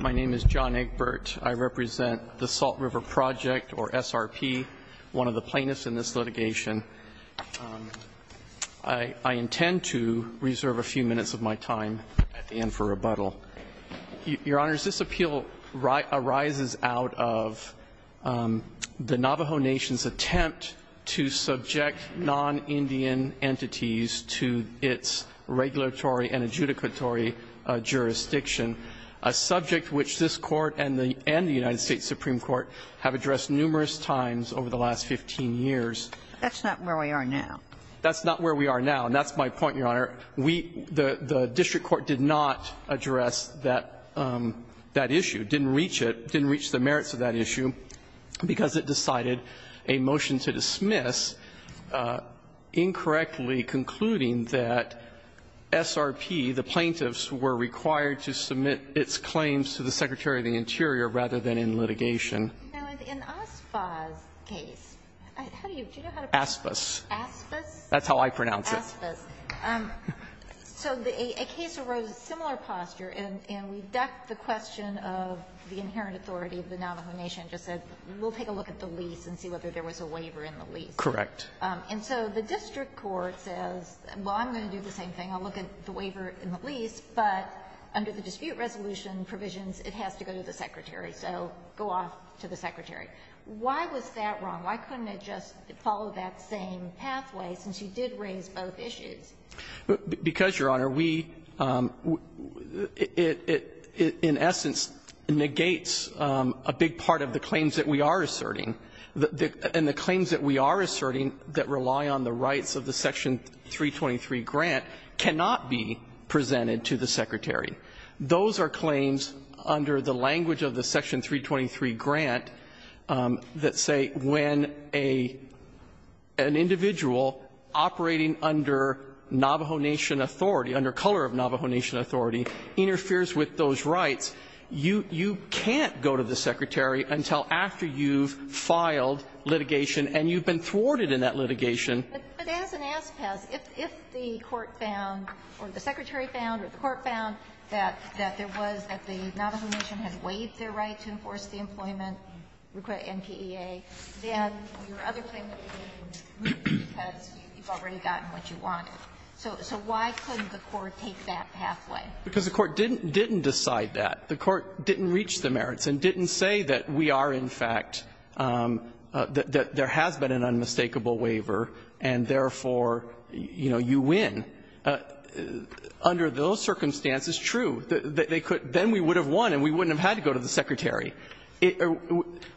My name is John Egbert. I represent the Salt River Project, or SRP, one of the plaintiffs in this litigation. I intend to reserve a few minutes of my time at the end for rebuttal. Your Honors, this appeal arises out of the Navajo Nation's attempt to subject non-Indian to its regulatory and adjudicatory jurisdiction, a subject which this Court and the United States Supreme Court have addressed numerous times over the last 15 years. That's not where we are now. That's not where we are now, and that's my point, Your Honor. We, the district court, did not address that issue, didn't reach it, didn't reach the merits of that case, and we're not directly concluding that SRP, the plaintiffs, were required to submit its claims to the Secretary of the Interior, rather than in litigation. Now, in Aspha's case, how do you, do you know how to pronounce it? Aspas. Aspas? That's how I pronounce it. Aspas. So a case arose of similar posture, and we ducked the question of the inherent authority of the Navajo Nation and just said, we'll take a look at the lease and see whether there was a waiver in the lease. Correct. And so the district court says, well, I'm going to do the same thing. I'll look at the waiver in the lease. But under the dispute resolution provisions, it has to go to the Secretary. So go off to the Secretary. Why was that wrong? Why couldn't it just follow that same pathway, since you did raise both issues? Because, Your Honor, we, it, in essence, negates a big part of the claims that we are asserting that rely on the rights of the Section 323 grant cannot be presented to the Secretary. Those are claims under the language of the Section 323 grant that say when a, an individual operating under Navajo Nation authority, under color of Navajo Nation authority, interferes with those rights, you, you can't go to the Secretary until after you've filed litigation and you've been thwarted in that litigation. But as an as-past, if, if the court found or the Secretary found or the court found that, that there was, that the Navajo Nation had waived their right to enforce the employment NPEA, then your other claim would be removed because you've already gotten what you wanted. So, so why couldn't the court take that pathway? Because the court didn't, didn't decide that. The court didn't reach the merits and didn't say that we are, in fact, that, that there has been an unmistakable waiver and, therefore, you know, you win. Under those circumstances, true, they could, then we would have won and we wouldn't have had to go to the Secretary. It,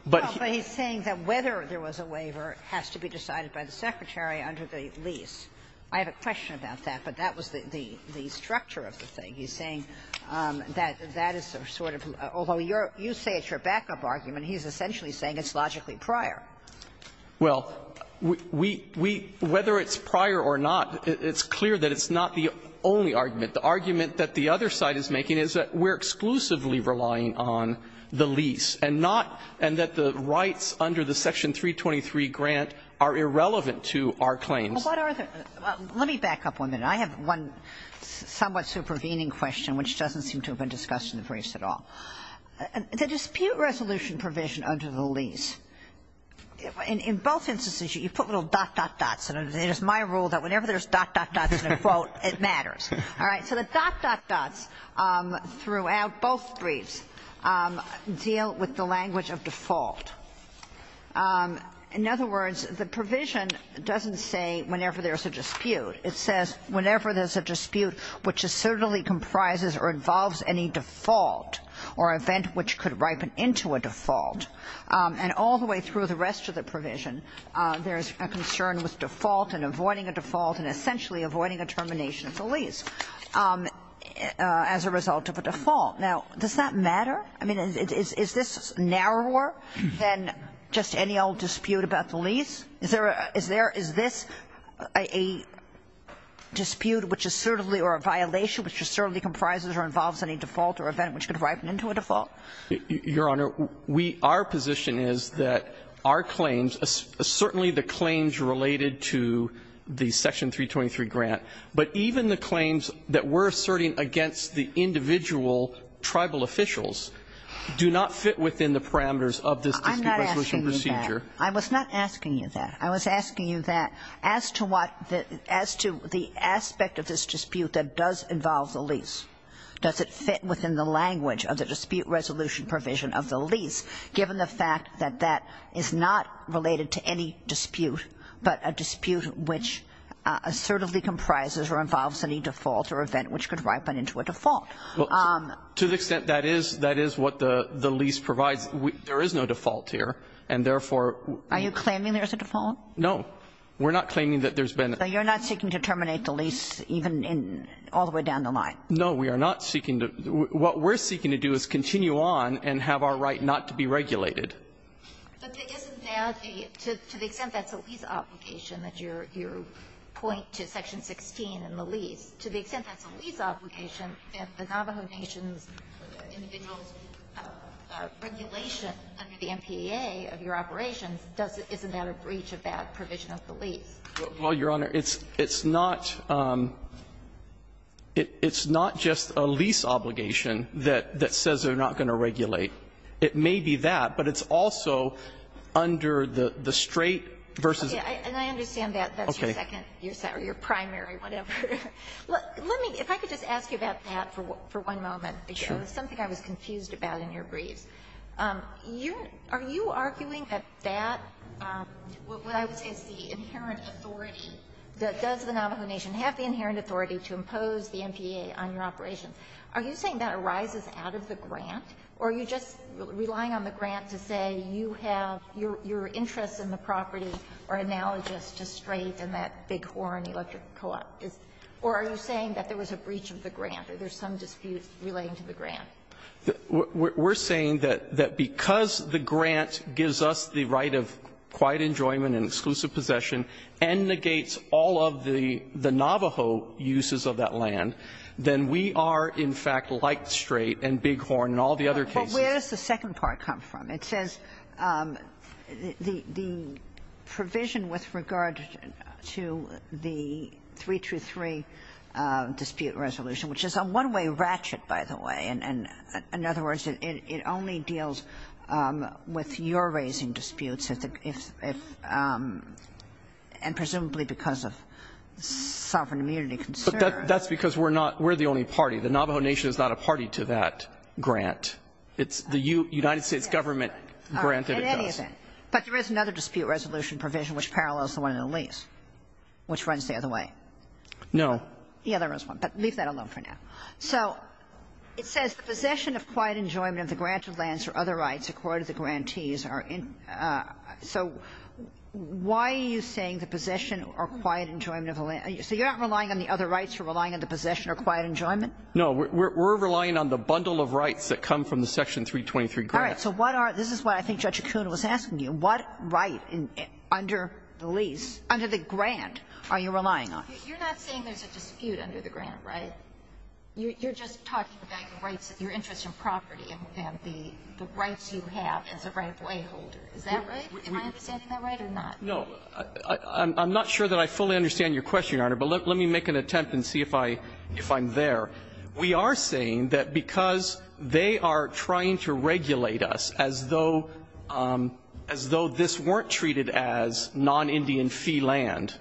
but he's saying that whether there was a waiver has to be decided by the Secretary under the lease. I have a question about that, but that was the, the, the structure of the thing. He's saying that, that is sort of, although you're, you say it's your backup argument, he's essentially saying it's logically prior. Well, we, we, we, whether it's prior or not, it's clear that it's not the only argument. The argument that the other side is making is that we're exclusively relying on the lease and not, and that the rights under the Section 323 grant are irrelevant to our claims. Well, what are the, let me back up one minute. I have one somewhat supervening question which doesn't seem to have been discussed in the briefs at all. The dispute resolution provision under the lease, in, in both instances you put little dot, dot, dots, and it is my rule that whenever there's dot, dot, dots in a quote, it matters. All right. So the dot, dot, dots throughout both briefs deal with the language of default. In other words, the provision doesn't say whenever there's a dispute. It says whenever there's a dispute which is certainly comprises or involves any default or event which could ripen into a default, and all the way through the rest of the provision, there's a concern with default and avoiding a default and essentially avoiding a termination of the lease as a result of a default. Now, does that matter? I mean, is, is, is this narrower than just any old dispute about the lease? Is there, is there, is this a dispute which is certainly or a violation which certainly comprises or involves any default or event which could ripen into a default? Your Honor, we, our position is that our claims, certainly the claims related to the Section 323 grant, but even the claims that we're asserting against the individual Tribal officials do not fit within the parameters of this dispute resolution I'm not asking you that. I was not asking you that. I was asking you that as to what, as to the aspect of this dispute that does involve the lease, does it fit within the language of the dispute resolution provision of the lease, given the fact that that is not related to any dispute, but a dispute which assertively comprises or involves any default or event which could ripen into a default? Well, to the extent that is, that is what the lease provides, there is no default here, and therefore Are you claiming there's a default? No. We're not claiming that there's been a So you're not seeking to terminate the lease even in, all the way down the line? No, we are not seeking to, what we're seeking to do is continue on and have our right not to be regulated. But isn't that the, to the extent that's a lease obligation, that you're, you're going to point to Section 16 in the lease, to the extent that's a lease obligation, that the Navajo Nation's individuals' regulation under the MPA of your operations, doesn't, isn't that a breach of that provision of the lease? Well, Your Honor, it's, it's not, it's not just a lease obligation that, that says they're not going to regulate. It may be that, but it's also under the, the straight versus Yeah, and I understand that, that's your second, or your primary, whatever. Let me, if I could just ask you about that for, for one moment. Sure. It was something I was confused about in your briefs. You're, are you arguing that that, what I would say is the inherent authority, that does the Navajo Nation have the inherent authority to impose the MPA on your operations? Are you saying that arises out of the grant, or are you just relying on the grant to say you have, your, your interests in the property are analogous to straight and that Bighorn Electric Co-op? Or are you saying that there was a breach of the grant, or there's some dispute relating to the grant? We're, we're saying that, that because the grant gives us the right of quiet enjoyment and exclusive possession, and negates all of the, the Navajo uses of that land, then we are in fact like straight and Bighorn and all the other cases. Well, where does the second part come from? It says the, the provision with regard to the 323 dispute resolution, which is a one-way ratchet, by the way, and, and in other words, it, it only deals with your raising disputes if, if, if, and presumably because of sovereign immunity concerns. But that's because we're not, we're the only party. The Navajo Nation is not a party to that grant. It's the U, United States government grant that it does. In any event, but there is another dispute resolution provision which parallels the one in the lease, which runs the other way. No. The other is one, but leave that alone for now. So it says the possession of quiet enjoyment of the granted lands or other rights accorded to the grantees are in, so why are you saying the possession or quiet enjoyment of the land, so you're not relying on the other rights, you're relying on the possession or quiet enjoyment? No. We're, we're relying on the bundle of rights that come from the section 323 grant. All right. So what are, this is what I think Judge Acuna was asking you, what right under the lease, under the grant are you relying on? You're not saying there's a dispute under the grant, right? You're, you're just talking about the rights, your interest in property and the, the rights you have as a rightful wayholder. Is that right? Am I understanding that right or not? No. I'm, I'm not sure that I fully understand your question, Your Honor, but let, let me make an attempt and see if I, if I'm there. We are saying that because they are trying to regulate us as though, as though this weren't treated as non-Indian fee land,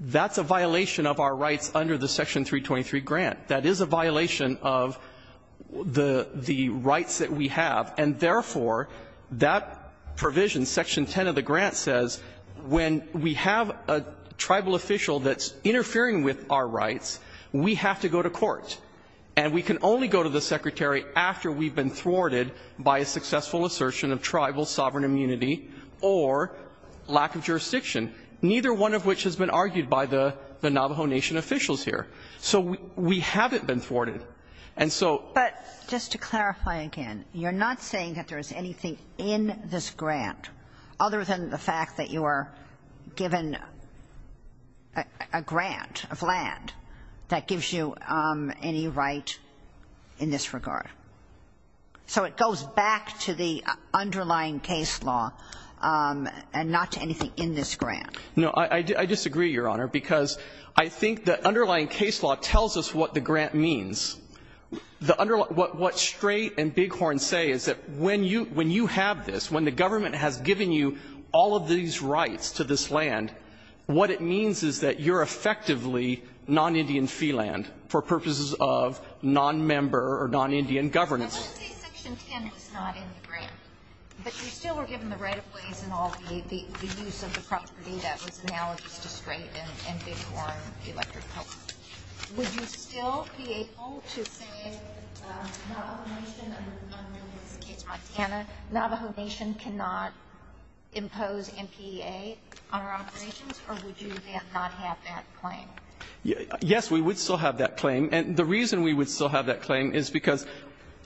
that's a violation of our rights under the section 323 grant. That is a violation of the, the rights that we have, and therefore, that provision, section 10 of the grant says, when we have a tribal official that's interfering with our rights, we have to go to court. And we can only go to the Secretary after we've been thwarted by a successful assertion of tribal sovereign immunity or lack of jurisdiction, neither one of which has been argued by the, the Navajo Nation officials here. So we, we haven't been thwarted. And so But just to clarify again, you're not saying that there's anything in this grant, other than the fact that you are given a, a grant of land that gives you any right in this regard. So it goes back to the underlying case law and not to anything in this grant. No, I, I disagree, Your Honor, because I think the underlying case law tells us what the grant means. The under, what, what Strait and Bighorn say is that when you, when you have this, when the government has given you all of these rights to this land, what it means is that you're effectively non-Indian fee land for purposes of non-member or non-Indian governance. I would say section 10 was not in the grant, but you still were given the right of ways in all the, the, the use of the property that was analogous to Strait and, and Bighorn electric power. Would you still be able to say, Navajo Nation, under this case, Montana, Navajo Nation cannot impose MPA on our operations, or would you then not have that claim? Yes, we would still have that claim. And the reason we would still have that claim is because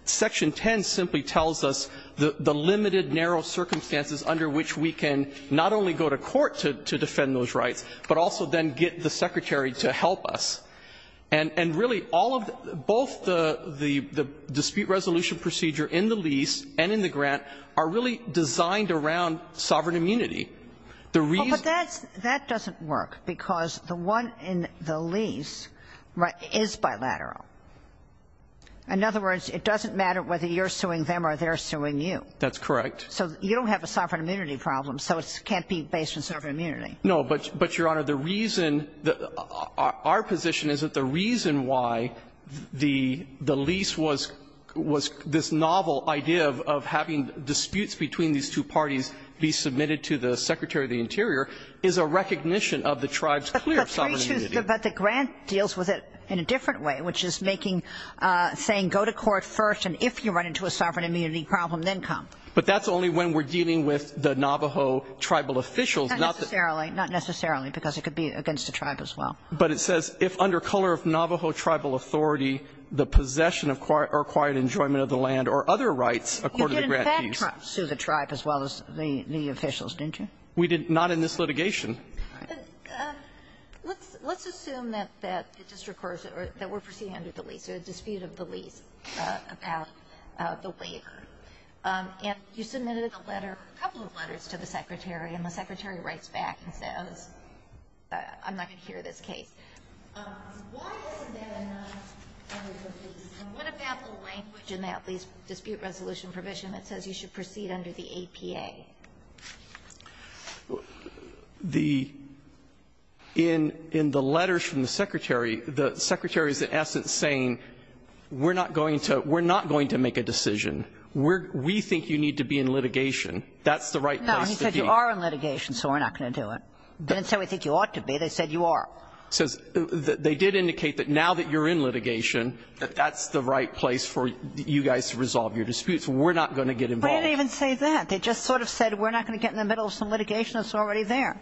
section 10 simply tells us the, the limited narrow circumstances under which we can not only go to court to, to defend those rights, but also then get the Secretary to help us. And, and really all of, both the, the, the dispute resolution procedure in the lease and in the grant are really designed around sovereign immunity. The reason that's, that doesn't work, because the one in the lease is bilateral. In other words, it doesn't matter whether you're suing them or they're suing you. That's correct. So you don't have a sovereign immunity problem, so it can't be based on sovereign immunity. No, but, but, Your Honor, the reason, our position is that the reason why the, the this novel idea of, of having disputes between these two parties be submitted to the Secretary of the Interior is a recognition of the tribe's clear sovereign immunity. But the grant deals with it in a different way, which is making, saying go to court first, and if you run into a sovereign immunity problem, then come. But that's only when we're dealing with the Navajo tribal officials, not the. Not necessarily, not necessarily, because it could be against the tribe as well. But it says, if under color of Navajo tribal authority, the possession of, or required enjoyment of the land or other rights according to the grant piece. You did, in fact, sue the tribe as well as the, the officials, didn't you? We did not in this litigation. Let's, let's assume that, that it just recurs, or that we're proceeding under the lease, or a dispute of the lease about the waiver. And you submitted a letter, a couple of letters to the Secretary, and the Secretary writes back and says, I'm not going to hear this case. Why isn't that enough under the lease? And what about the language in the at least dispute resolution provision that says you should proceed under the APA? The, in, in the letters from the Secretary, the Secretary is in essence saying we're not going to, we're not going to make a decision. We're, we think you need to be in litigation. That's the right place to be. No, he said you are in litigation, so we're not going to do it. He didn't say we think you ought to be, they said you are. He says, they did indicate that now that you're in litigation, that that's the right place for you guys to resolve your disputes. We're not going to get involved. We didn't even say that. They just sort of said we're not going to get in the middle of some litigation that's already there.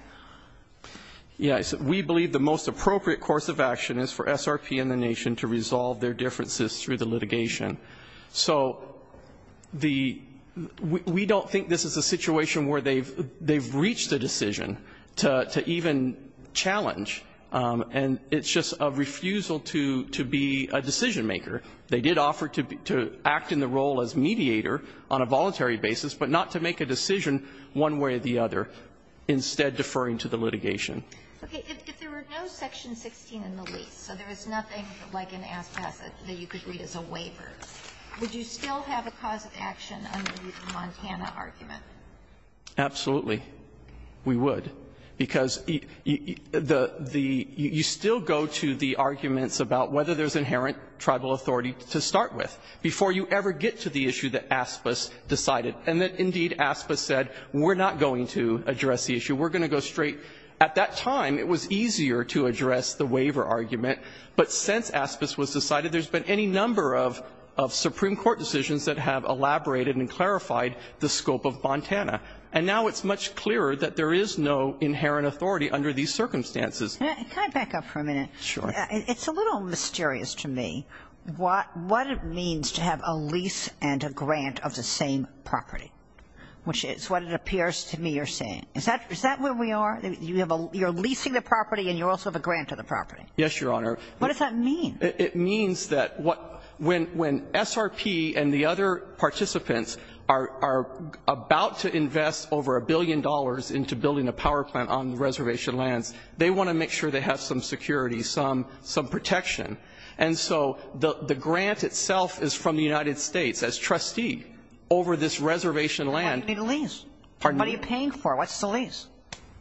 Yes. We believe the most appropriate course of action is for SRP and the nation to resolve their differences through the litigation. So the, we, we don't think this is a situation where they've, they've reached a decision to, to even challenge and it's just a refusal to, to be a decision maker. They did offer to be, to act in the role as mediator on a voluntary basis, but not to make a decision one way or the other, instead deferring to the litigation. Okay, if, if there were no section 16 in the lease, so there is nothing like an ask pass that, that you could read as a waiver. Would you still have a cause of action under the Montana argument? Absolutely. We would. Because the, the, the, you still go to the arguments about whether there's inherent tribal authority to start with, before you ever get to the issue that asked us, decided, and that indeed asked us, said, we're not going to address the issue. We're going to go straight. At that time, it was easier to address the waiver argument. But since asked us, was decided, there's been any number of, of Supreme Court decisions that have elaborated and clarified the scope of Montana. And now it's much clearer that there is no inherent authority under these circumstances. Can I back up for a minute? Sure. It's a little mysterious to me. What, what it means to have a lease and a grant of the same property. Which is what it appears to me you're saying. Is that, is that where we are? You have a, you're leasing the property and you also have a grant of the property. Yes, Your Honor. What does that mean? It means that what, when, when SRP and the other participants are, are about to invest over a billion dollars into building a power plant on reservation lands, they want to make sure they have some security, some, some protection. And so the, the grant itself is from the United States as trustee over this reservation land. Why do you need a lease? Pardon me? What are you paying for? What's the lease?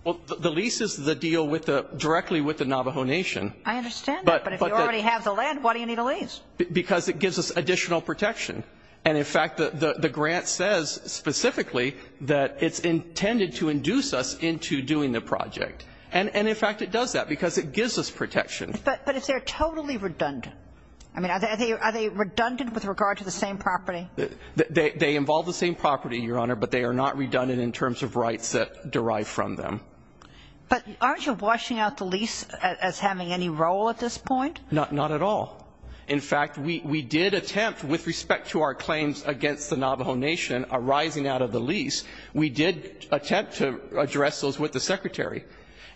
Well, the, the lease is the deal with the, directly with the Navajo Nation. I understand that, but if you already have the land, why do you need a lease? Because it gives us additional protection. And in fact, the, the, the grant says specifically that it's intended to induce us into doing the project. And, and in fact, it does that because it gives us protection. But, but is there totally redundant? I mean, are they, are they redundant with regard to the same property? They, they involve the same property, Your Honor, but they are not redundant in terms of rights that derive from them. But aren't you washing out the lease as having any role at this point? Not, not at all. In fact, we, we did attempt with respect to our claims against the Navajo Nation arising out of the lease. We did attempt to address those with the Secretary.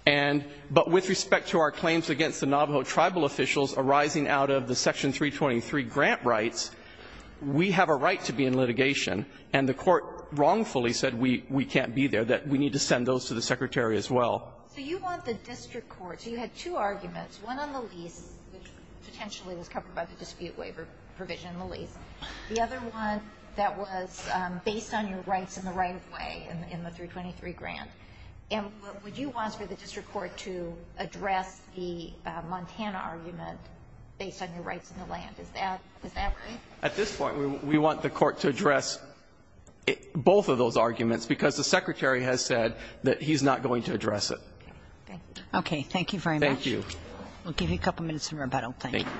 And, but with respect to our claims against the Navajo tribal officials arising out of the Section 323 grant rights, we have a right to be in litigation, and the court wrongfully said we, we can't be there, that we need to send those to the Secretary as well. So you want the district court, so you had two arguments, one on the lease, which potentially was covered by the dispute waiver provision in the lease. The other one that was based on your rights in the right way in, in the 323 grant. And what would you want for the district court to address the Montana argument based on your rights in the land? Is that, is that right? At this point, we, we want the court to address both of those arguments, because the Secretary has said that he's not going to address it. Okay. Okay. Thank you very much. Thank you. We'll give you a couple minutes in rebuttal. Thank you. Thank you.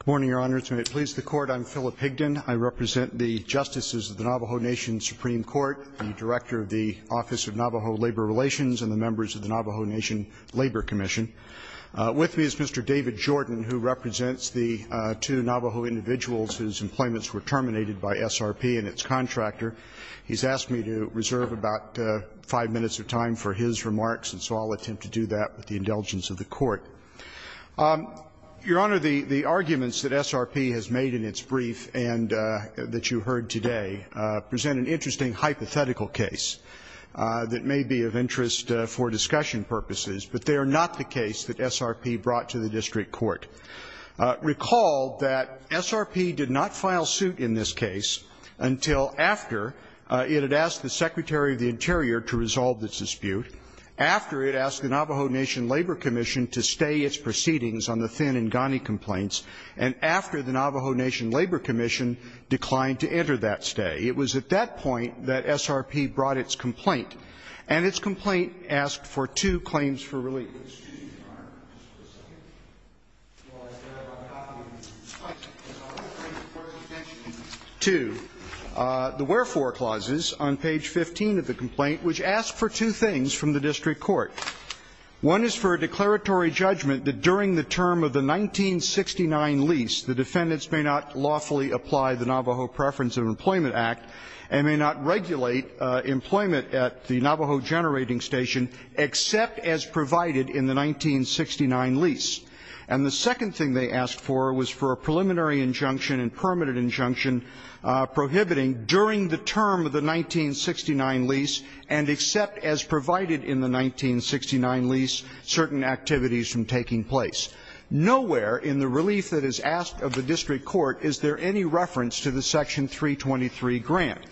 Good morning, Your Honor. It's my pleasure to please the Court. I'm Philip Higdon. I represent the Justices of the Navajo Nation Supreme Court, the Director of the Office of Navajo Labor Relations, and the members of the Navajo Nation Labor Commission. With me is Mr. David Jordan, who represents the two Navajo individuals whose employments were terminated by SRP and its contractor. He's asked me to reserve about five minutes of time for his remarks, and so I'll attempt to do that with the indulgence of the Court. Your Honor, the, the arguments that SRP has made in its brief and that you heard today present an interesting hypothetical case that may be of interest for discussion purposes, but they are not the case that SRP brought to the District Court. Recall that SRP did not file suit in this case until after it had asked the Secretary of the Interior to resolve this dispute, after it asked the Navajo Nation Labor Commission to stay its proceedings on the Thin and Ghani complaints, and after the Navajo Nation Labor Commission declined to enter that stay. It was at that point that SRP brought its complaint, and its complaint asked for two claims for relief. The wherefore clauses on page 15 of the complaint, which ask for two things from the District Court. One is for a declaratory judgment that during the term of the 1969 lease, the defendants may not lawfully apply the Navajo Preference of Employment Act, and the other is that they may not regulate employment at the Navajo Generating Station, except as provided in the 1969 lease. And the second thing they asked for was for a preliminary injunction and permanent injunction prohibiting during the term of the 1969 lease, and except as provided in the 1969 lease, certain activities from taking place. Nowhere in the relief that is asked of the District Court is there any reference to the Section 323 grant.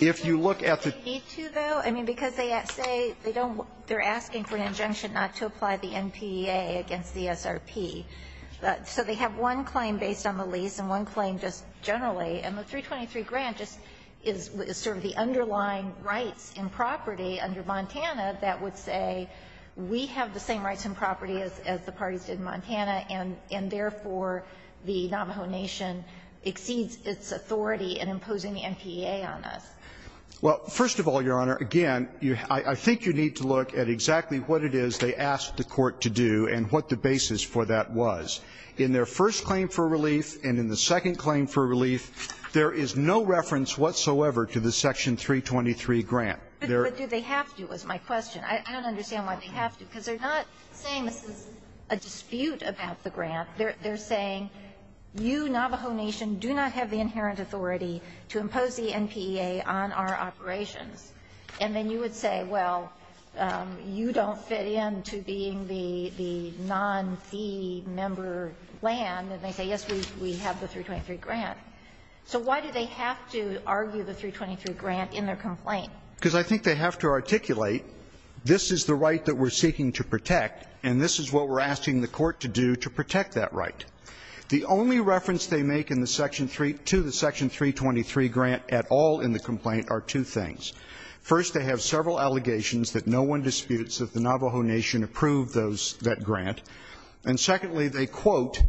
If you look at the ---- But do they need to, though? I mean, because they say they don't they're asking for an injunction not to apply the NPEA against the SRP. So they have one claim based on the lease and one claim just generally, and the 323 grant just is sort of the underlying rights and property under Montana that would say we have the same rights and property as the parties did in Montana, and therefore the Navajo Nation exceeds its authority in imposing the NPEA on us. Well, first of all, Your Honor, again, I think you need to look at exactly what it is they asked the Court to do and what the basis for that was. In their first claim for relief and in the second claim for relief, there is no reference whatsoever to the Section 323 grant. But do they have to is my question. I don't understand why they have to, because they're not saying this is a dispute about the grant. They're saying you, Navajo Nation, do not have the inherent authority to impose the NPEA on our operations. And then you would say, well, you don't fit in to being the non-fee member land, and they say, yes, we have the 323 grant. So why do they have to argue the 323 grant in their complaint? Because I think they have to articulate this is the right that we're seeking to protect, and this is what we're asking the Court to do to protect that right. The only reference they make in the Section 3 to the Section 323 grant at all in the complaint are two things. First, they have several allegations that no one disputes that the Navajo Nation approved those, that grant. And secondly, they quote,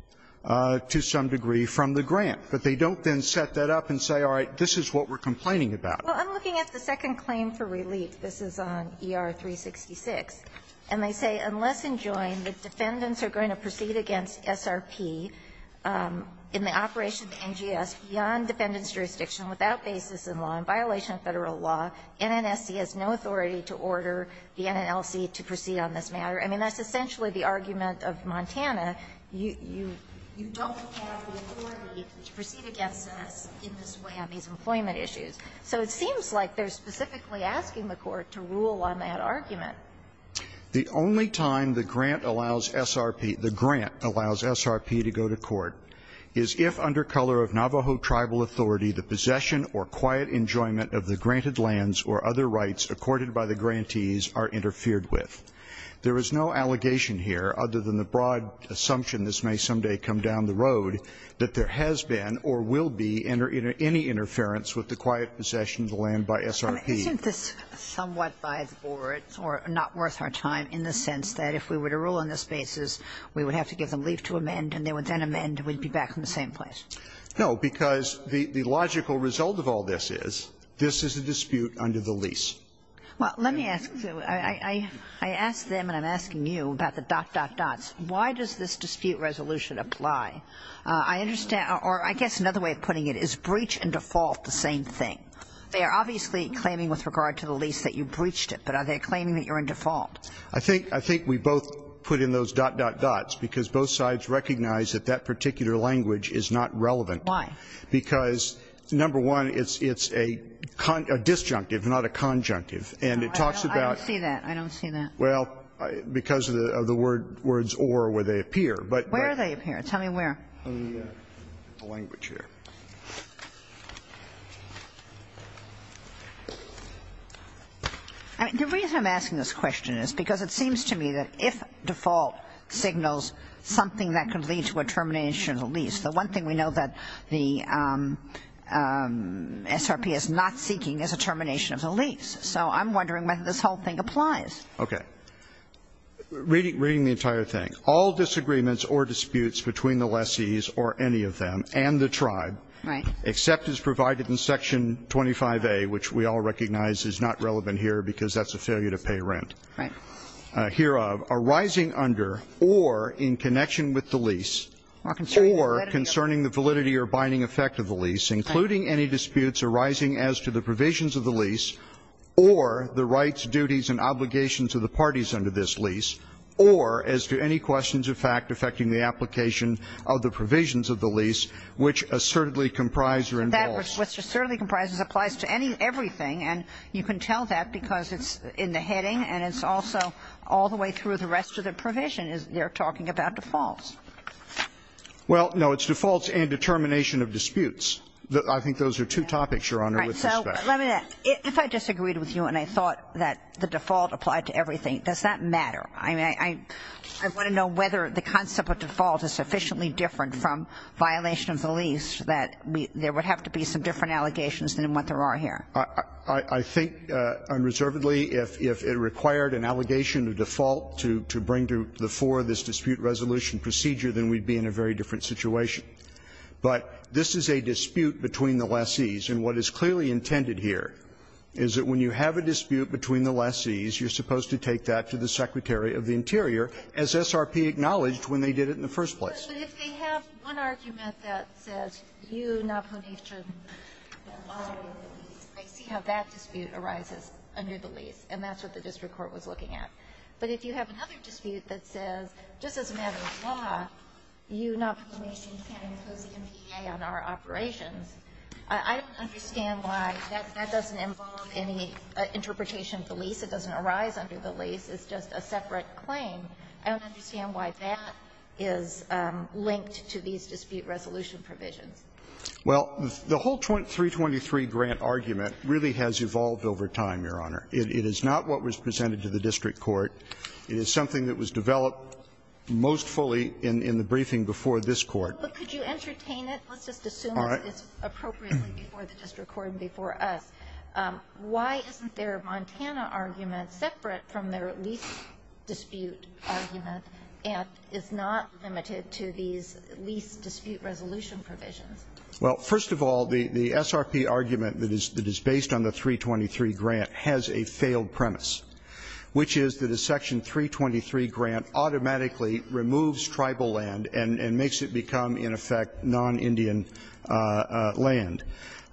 to some degree, from the grant. But they don't then set that up and say, all right, this is what we're complaining about. Well, I'm looking at the second claim for relief. This is on ER-366. And they say, unless enjoined, the defendants are going to proceed against SRP in the operation of the NGS beyond defendant's jurisdiction, without basis in law, in violation of Federal law. NNSC has no authority to order the NNLC to proceed on this matter. I mean, that's essentially the argument of Montana. You don't have the authority to proceed against us in this way on these employment issues. So it seems like they're specifically asking the Court to rule on that argument. The only time the grant allows SRP, the grant allows SRP to go to court is if under color of Navajo tribal authority, the possession or quiet enjoyment of the granted lands or other rights accorded by the grantees are interfered with. There is no allegation here, other than the broad assumption this may someday come down the road, that there has been or will be any interference with the quiet possession of the land by SRP. Isn't this somewhat by the board or not worth our time in the sense that if we were to rule on this basis, we would have to give them leave to amend, and they would then amend, and we'd be back in the same place? No, because the logical result of all this is, this is a dispute under the lease. Well, let me ask you, I asked them, and I'm asking you, about the dot, dot, dots. Why does this dispute resolution apply? I understand or I guess another way of putting it is breach and default the same thing. They are obviously claiming with regard to the lease that you breached it, but are they claiming that you're in default? I think we both put in those dot, dot, dots, because both sides recognize that that particular language is not relevant. Why? Because, number one, it's a disjunctive, not a conjunctive, and it talks about I don't see that, I don't see that. Well, because of the words or where they appear. Where do they appear? Tell me where. The reason I'm asking this question is because it seems to me that if default signals something that could lead to a termination of the lease, the one thing we know that the SRP is not seeking is a termination of the lease. So I'm wondering whether this whole thing applies. Okay. Reading the entire thing. All disagreements or disputes between the lessees or any of them and the tribe except as provided in section 25A, which we all recognize is not relevant here because that's a failure to pay rent. Hereof, arising under or in connection with the lease or concerning the validity or binding effect of the lease, including any disputes arising as to the provisions of the lease or the rights, duties, and obligations of the parties under this lease, or as to any questions of fact affecting the application of the provisions of the lease, which assertedly comprise or involves. That which assertedly comprises applies to any, everything, and you can tell that because it's in the heading and it's also all the way through the rest of the provision is they're talking about defaults. Well, no, it's defaults and determination of disputes. I think those are two topics, Your Honor, with respect. All right. So let me ask, if I disagreed with you and I thought that the default applied to everything, does that matter? I mean, I want to know whether the concept of default is sufficiently different from violation of the lease that there would have to be some different allegations than what there are here. I think unreservedly, if it required an allegation of default to bring to the fore this dispute resolution procedure, then we'd be in a very different situation. But this is a dispute between the lessees, and what is clearly intended here is that when you have a dispute between the lessees, you're supposed to take that to the Secretary of the Interior, as SRP acknowledged when they did it in the first place. But if they have one argument that says you, Navjot Nisen, I see how that dispute arises under the lease, and that's what the district court was looking at. But if you have another dispute that says, just as a matter of law, you, Navjot Nisen, can't impose the MPA on our operations, I don't understand why that doesn't involve any interpretation of the lease, it doesn't arise under the lease, it's just a separate claim. I don't understand why that is linked to these dispute resolution provisions. Well, the whole 323 grant argument really has evolved over time, Your Honor. It is not what was presented to the district court. It is something that was developed most fully in the briefing before this court. But could you entertain it? Let's just assume that it's appropriately before the district court and before us. Why isn't their Montana argument separate from their lease dispute argument, and is not limited to these lease dispute resolution provisions? Well, first of all, the SRP argument that is based on the 323 grant has a failed premise, which is that a section 323 grant automatically removes tribal land and makes it become, in effect, non-Indian land.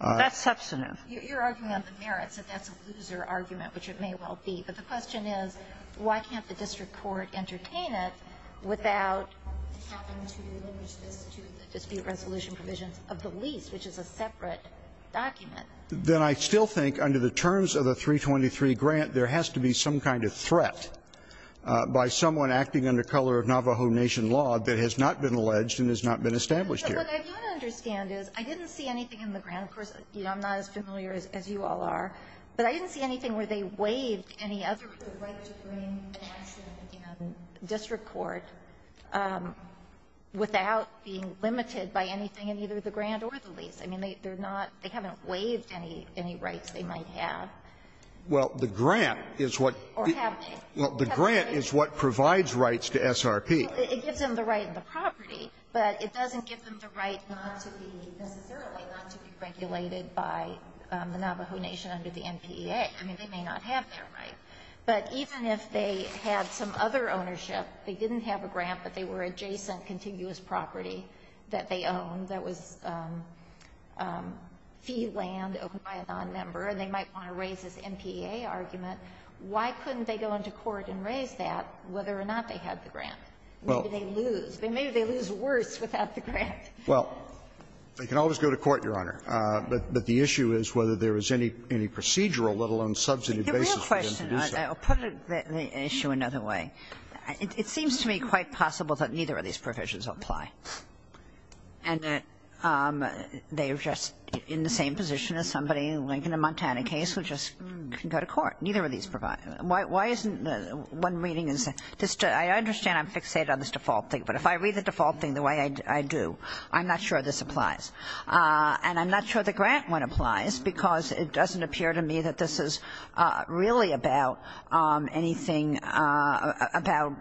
That's substantive. You're arguing on the merits that that's a loser argument, which it may well be. But the question is, why can't the district court entertain it without having to deliver this to the dispute resolution provisions of the lease, which is a separate document? Then I still think under the terms of the 323 grant, there has to be some kind of threat by someone acting under color of Navajo Nation law that has not been alleged and has not been established here. What I don't understand is, I didn't see anything in the grant. Of course, I'm not as familiar as you all are. But I didn't see anything where they waived any other right to bring land to the district court without being limited by anything in either the grant or the lease. I mean, they're not they haven't waived any rights they might have. Well, the grant is what the grant is what provides rights to SRP. It gives them the right in the property, but it doesn't give them the right not to be, necessarily, not to be regulated by the Navajo Nation under the NPEA. I mean, they may not have that right. But even if they had some other ownership, they didn't have a grant, but they were adjacent contiguous property that they owned that was fee land owned by a nonmember, and they might want to raise this NPEA argument, why couldn't they go into court and raise that whether or not they had the grant? Maybe they lose. Maybe they lose worse without the grant. Well, they can always go to court, Your Honor. But the issue is whether there is any procedural, let alone substantive basis for I'll put the issue another way. It seems to me quite possible that neither of these provisions apply. And they're just in the same position as somebody in the Lincoln and Montana case who just couldn't go to court. Neither of these provide. Why isn't one reading is just I understand I'm fixated on this default thing. But if I read the default thing the way I do, I'm not sure this applies. And I'm not sure the grant one applies because it doesn't appear to me that this is really about anything about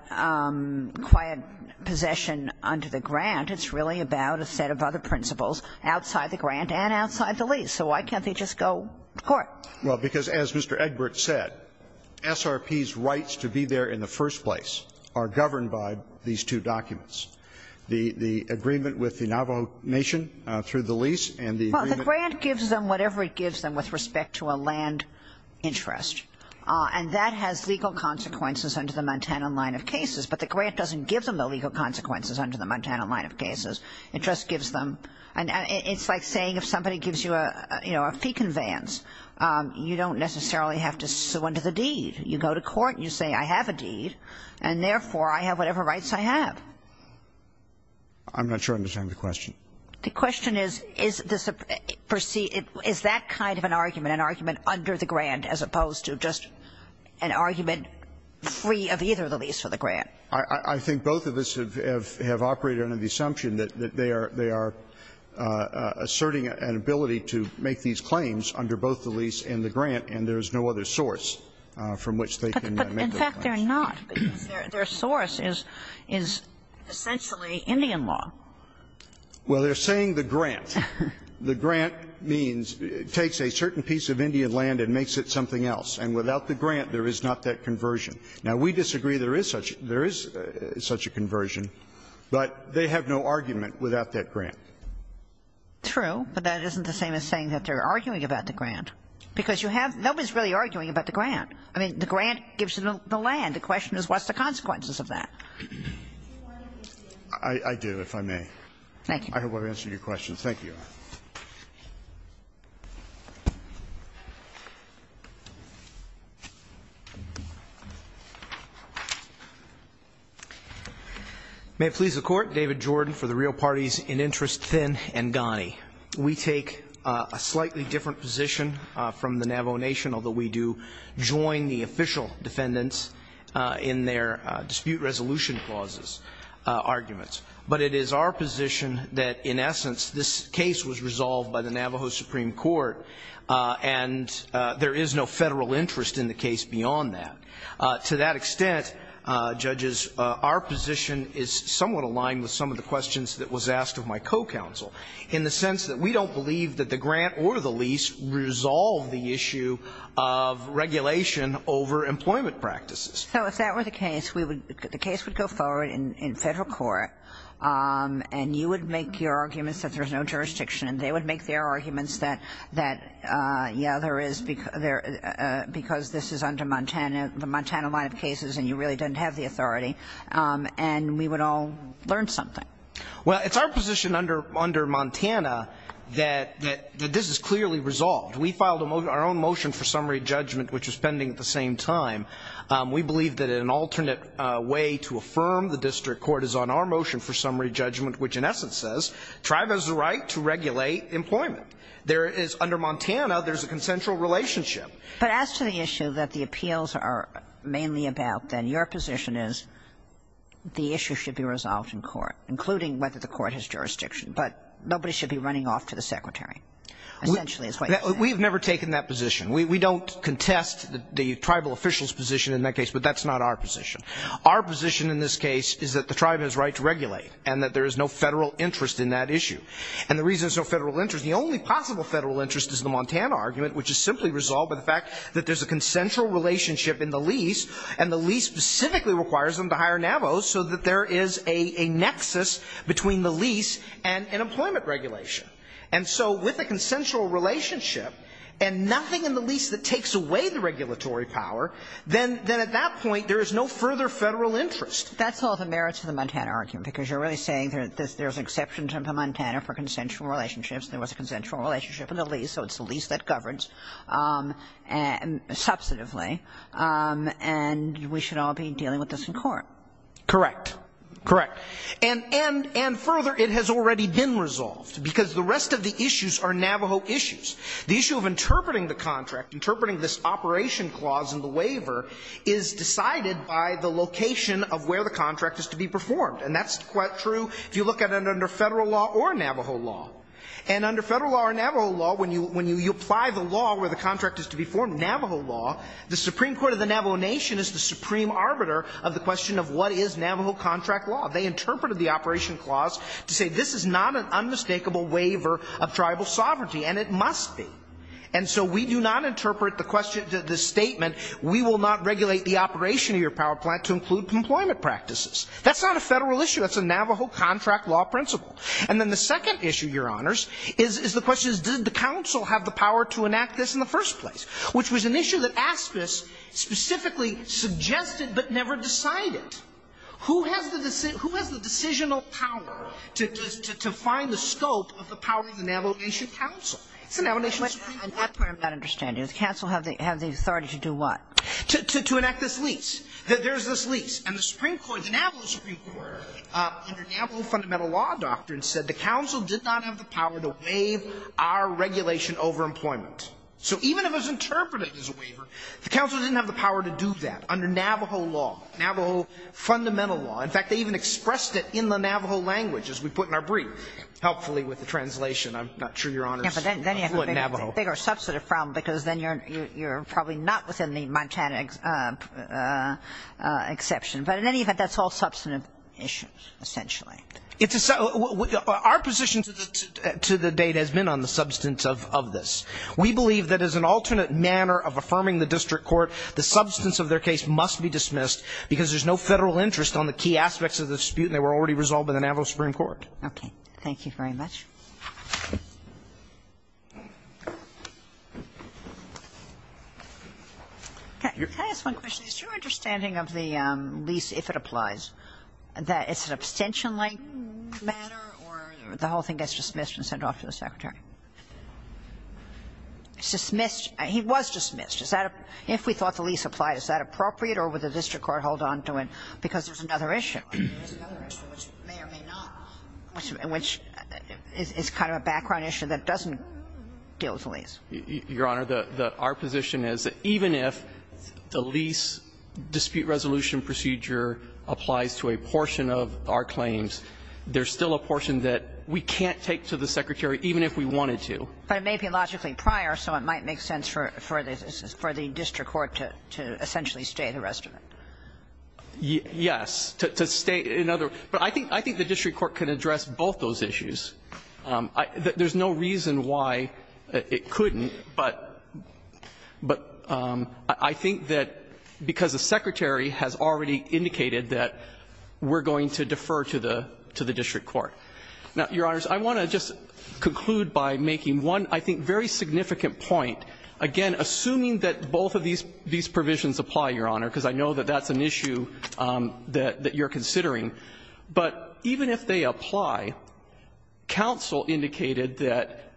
quiet possession under the grant. It's really about a set of other principles outside the grant and outside the lease. So why can't they just go to court? Well, because as Mr. Egbert said, SRP's rights to be there in the first place are governed by these two documents. The agreement with the Navajo Nation through the lease and the agreement gives them whatever it gives them with respect to a land interest. And that has legal consequences under the Montana line of cases. But the grant doesn't give them the legal consequences under the Montana line of cases. It just gives them and it's like saying if somebody gives you a, you know, a fee conveyance, you don't necessarily have to sue under the deed. You go to court and you say, I have a deed. And therefore, I have whatever rights I have. I'm not sure I understand the question. The question is, is this a perceived, is that kind of an argument, an argument under the grant as opposed to just an argument free of either the lease or the grant? I think both of us have operated under the assumption that they are asserting an ability to make these claims under both the lease and the grant and there's no other source from which they can make those claims. But in fact, they're not. Their source is essentially Indian law. Well, they're saying the grant. The grant means it takes a certain piece of Indian land and makes it something else. And without the grant, there is not that conversion. Now, we disagree there is such a conversion, but they have no argument without that grant. True, but that isn't the same as saying that they're arguing about the grant. Because you have no one's really arguing about the grant. I mean, the grant gives them the land. The question is what's the consequences of that? I do, if I may. Thank you. I hope I've answered your question. Thank you. May it please the Court. David Jordan for the Rio Parties in Interest, Thin and Ghani. We take a slightly different position from the Navajo Nation, although we do join in on the exclusion clauses arguments. But it is our position that, in essence, this case was resolved by the Navajo Supreme Court, and there is no Federal interest in the case beyond that. To that extent, Judges, our position is somewhat aligned with some of the questions that was asked of my co-counsel, in the sense that we don't believe that the grant or the lease resolve the issue of regulation over employment practices. So if that were the case, the case would go forward in Federal court, and you would make your arguments that there's no jurisdiction, and they would make their arguments that, yeah, there is, because this is under the Montana line of cases, and you really didn't have the authority, and we would all learn something. Well, it's our position under Montana that this is clearly resolved. We filed our own motion for summary judgment, which was pending at the same time. We believe that in an alternate way to affirm the district court is on our motion for summary judgment, which in essence says tribe has the right to regulate employment. There is, under Montana, there's a consensual relationship. But as to the issue that the appeals are mainly about, then, your position is the issue should be resolved in court, including whether the court has jurisdiction. But nobody should be running off to the Secretary, essentially, is what you're saying. We have never taken that position. We don't contest the tribal official's position in that case, but that's not our position. Our position in this case is that the tribe has a right to regulate, and that there is no Federal interest in that issue. And the reason there's no Federal interest, the only possible Federal interest is the Montana argument, which is simply resolved by the fact that there's a consensual relationship in the lease, and the lease specifically requires them to hire Navos, so that there is a nexus between the lease and an employment regulation. And so with a consensual relationship and nothing in the lease that takes away the regulatory power, then at that point there is no further Federal interest. That's all the merits of the Montana argument, because you're really saying there's exceptions under Montana for consensual relationships. There was a consensual relationship in the lease, so it's the lease that governs substantively, and we should all be dealing with this in court. Correct. Correct. And further, it has already been resolved, because the rest of the issues are Navajo issues. The issue of interpreting the contract, interpreting this operation clause in the waiver, is decided by the location of where the contract is to be performed. And that's quite true if you look at it under Federal law or Navajo law. And under Federal law or Navajo law, when you apply the law where the contract is to be formed, Navajo law, the Supreme Court of the Navajo Nation is the supreme arbiter of the question of what is Navajo contract law. They interpreted the operation clause to say this is not an unmistakable waiver of tribal sovereignty, and it must be. And so we do not interpret the statement, we will not regulate the operation of your power plant to include employment practices. That's not a Federal issue. That's a Navajo contract law principle. And then the second issue, Your Honors, is the question is, did the council have the power to enact this in the first place, which was an issue that ASPIS specifically suggested but never decided. Who has the decisional power to find the scope of the power of the Navajo Nation council? It's the Navajo Nation Supreme Court. I'm not clear on that understanding. Does the council have the authority to do what? To enact this lease. There's this lease. And the Supreme Court, the Navajo Supreme Court, under Navajo fundamental law doctrine said the council did not have the power to waive our regulation over employment. So even if it was interpreted as a waiver, the council didn't have the power to do that under Navajo law. Navajo fundamental law. In fact, they even expressed it in the Navajo language, as we put in our brief, helpfully with the translation. I'm not sure, Your Honors, what Navajo. But then you have a bigger substantive problem because then you're probably not within the Montana exception. But in any event, that's all substantive issues, essentially. Our position to the date has been on the substance of this. We believe that as an alternate manner of affirming the district court, the substance of their case must be dismissed because there's no Federal interest on the key aspects of the dispute and they were already resolved by the Navajo Supreme Court. Okay. Thank you very much. Can I ask one question? Is your understanding of the lease, if it applies, that it's an abstention-like matter or the whole thing gets dismissed and sent off to the Secretary? It's dismissed. He was dismissed. If we thought the lease applied, is that appropriate or would the district court hold on to it because there's another issue? There's another issue which may or may not, which is kind of a background issue that doesn't deal with the lease. Your Honor, our position is that even if the lease dispute resolution procedure applies to a portion of our claims, there's still a portion that we can't take to the Secretary even if we wanted to. But it may be logically prior, so it might make sense for the district court to essentially stay the rest of it. Yes. To stay in other words. But I think the district court can address both those issues. There's no reason why it couldn't, but I think that because the Secretary has already indicated that we're going to defer to the district court. Now, Your Honors, I want to just conclude by making one, I think, very significant point. Again, assuming that both of these provisions apply, Your Honor, because I know that that's an issue that you're considering, but even if they apply, counsel indicated that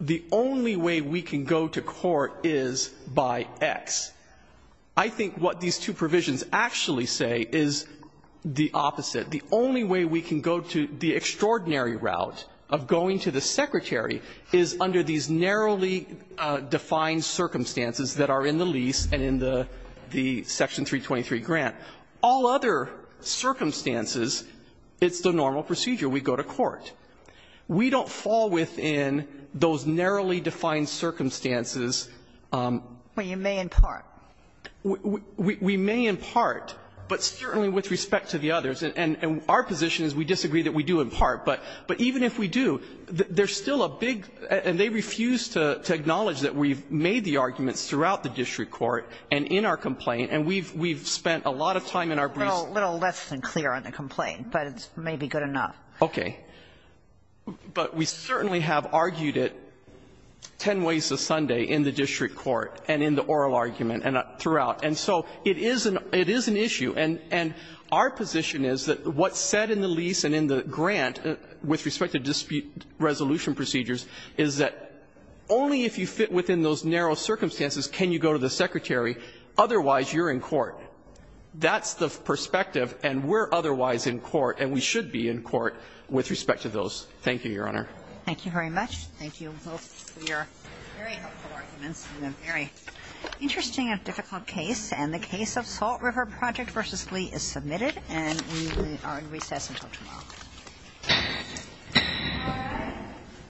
the only way we can go to court is by X. I think what these two provisions actually say is the opposite. The only way we can go to the extraordinary route of going to the Secretary is under these narrowly defined circumstances that are in the lease and in the Section 323 grant. All other circumstances, it's the normal procedure. We go to court. We don't fall within those narrowly defined circumstances. Well, you may in part. We may in part, but certainly with respect to the others. And our position is we disagree that we do in part. But even if we do, there's still a big, and they refuse to acknowledge that we've made the arguments throughout the district court and in our complaint, and we've spent a lot of time in our briefs. Well, a little less than clear on the complaint, but it's maybe good enough. Okay. But we certainly have argued it ten ways a Sunday in the district court and in the district court and throughout. And so it is an issue. And our position is that what's said in the lease and in the grant with respect to dispute resolution procedures is that only if you fit within those narrow circumstances can you go to the Secretary. Otherwise, you're in court. That's the perspective, and we're otherwise in court, and we should be in court with respect to those. Thank you, Your Honor. Thank you very much. Thank you. And those were your very helpful arguments in a very interesting and difficult case. And the case of Salt River Project v. Lee is submitted, and we are in recess until tomorrow.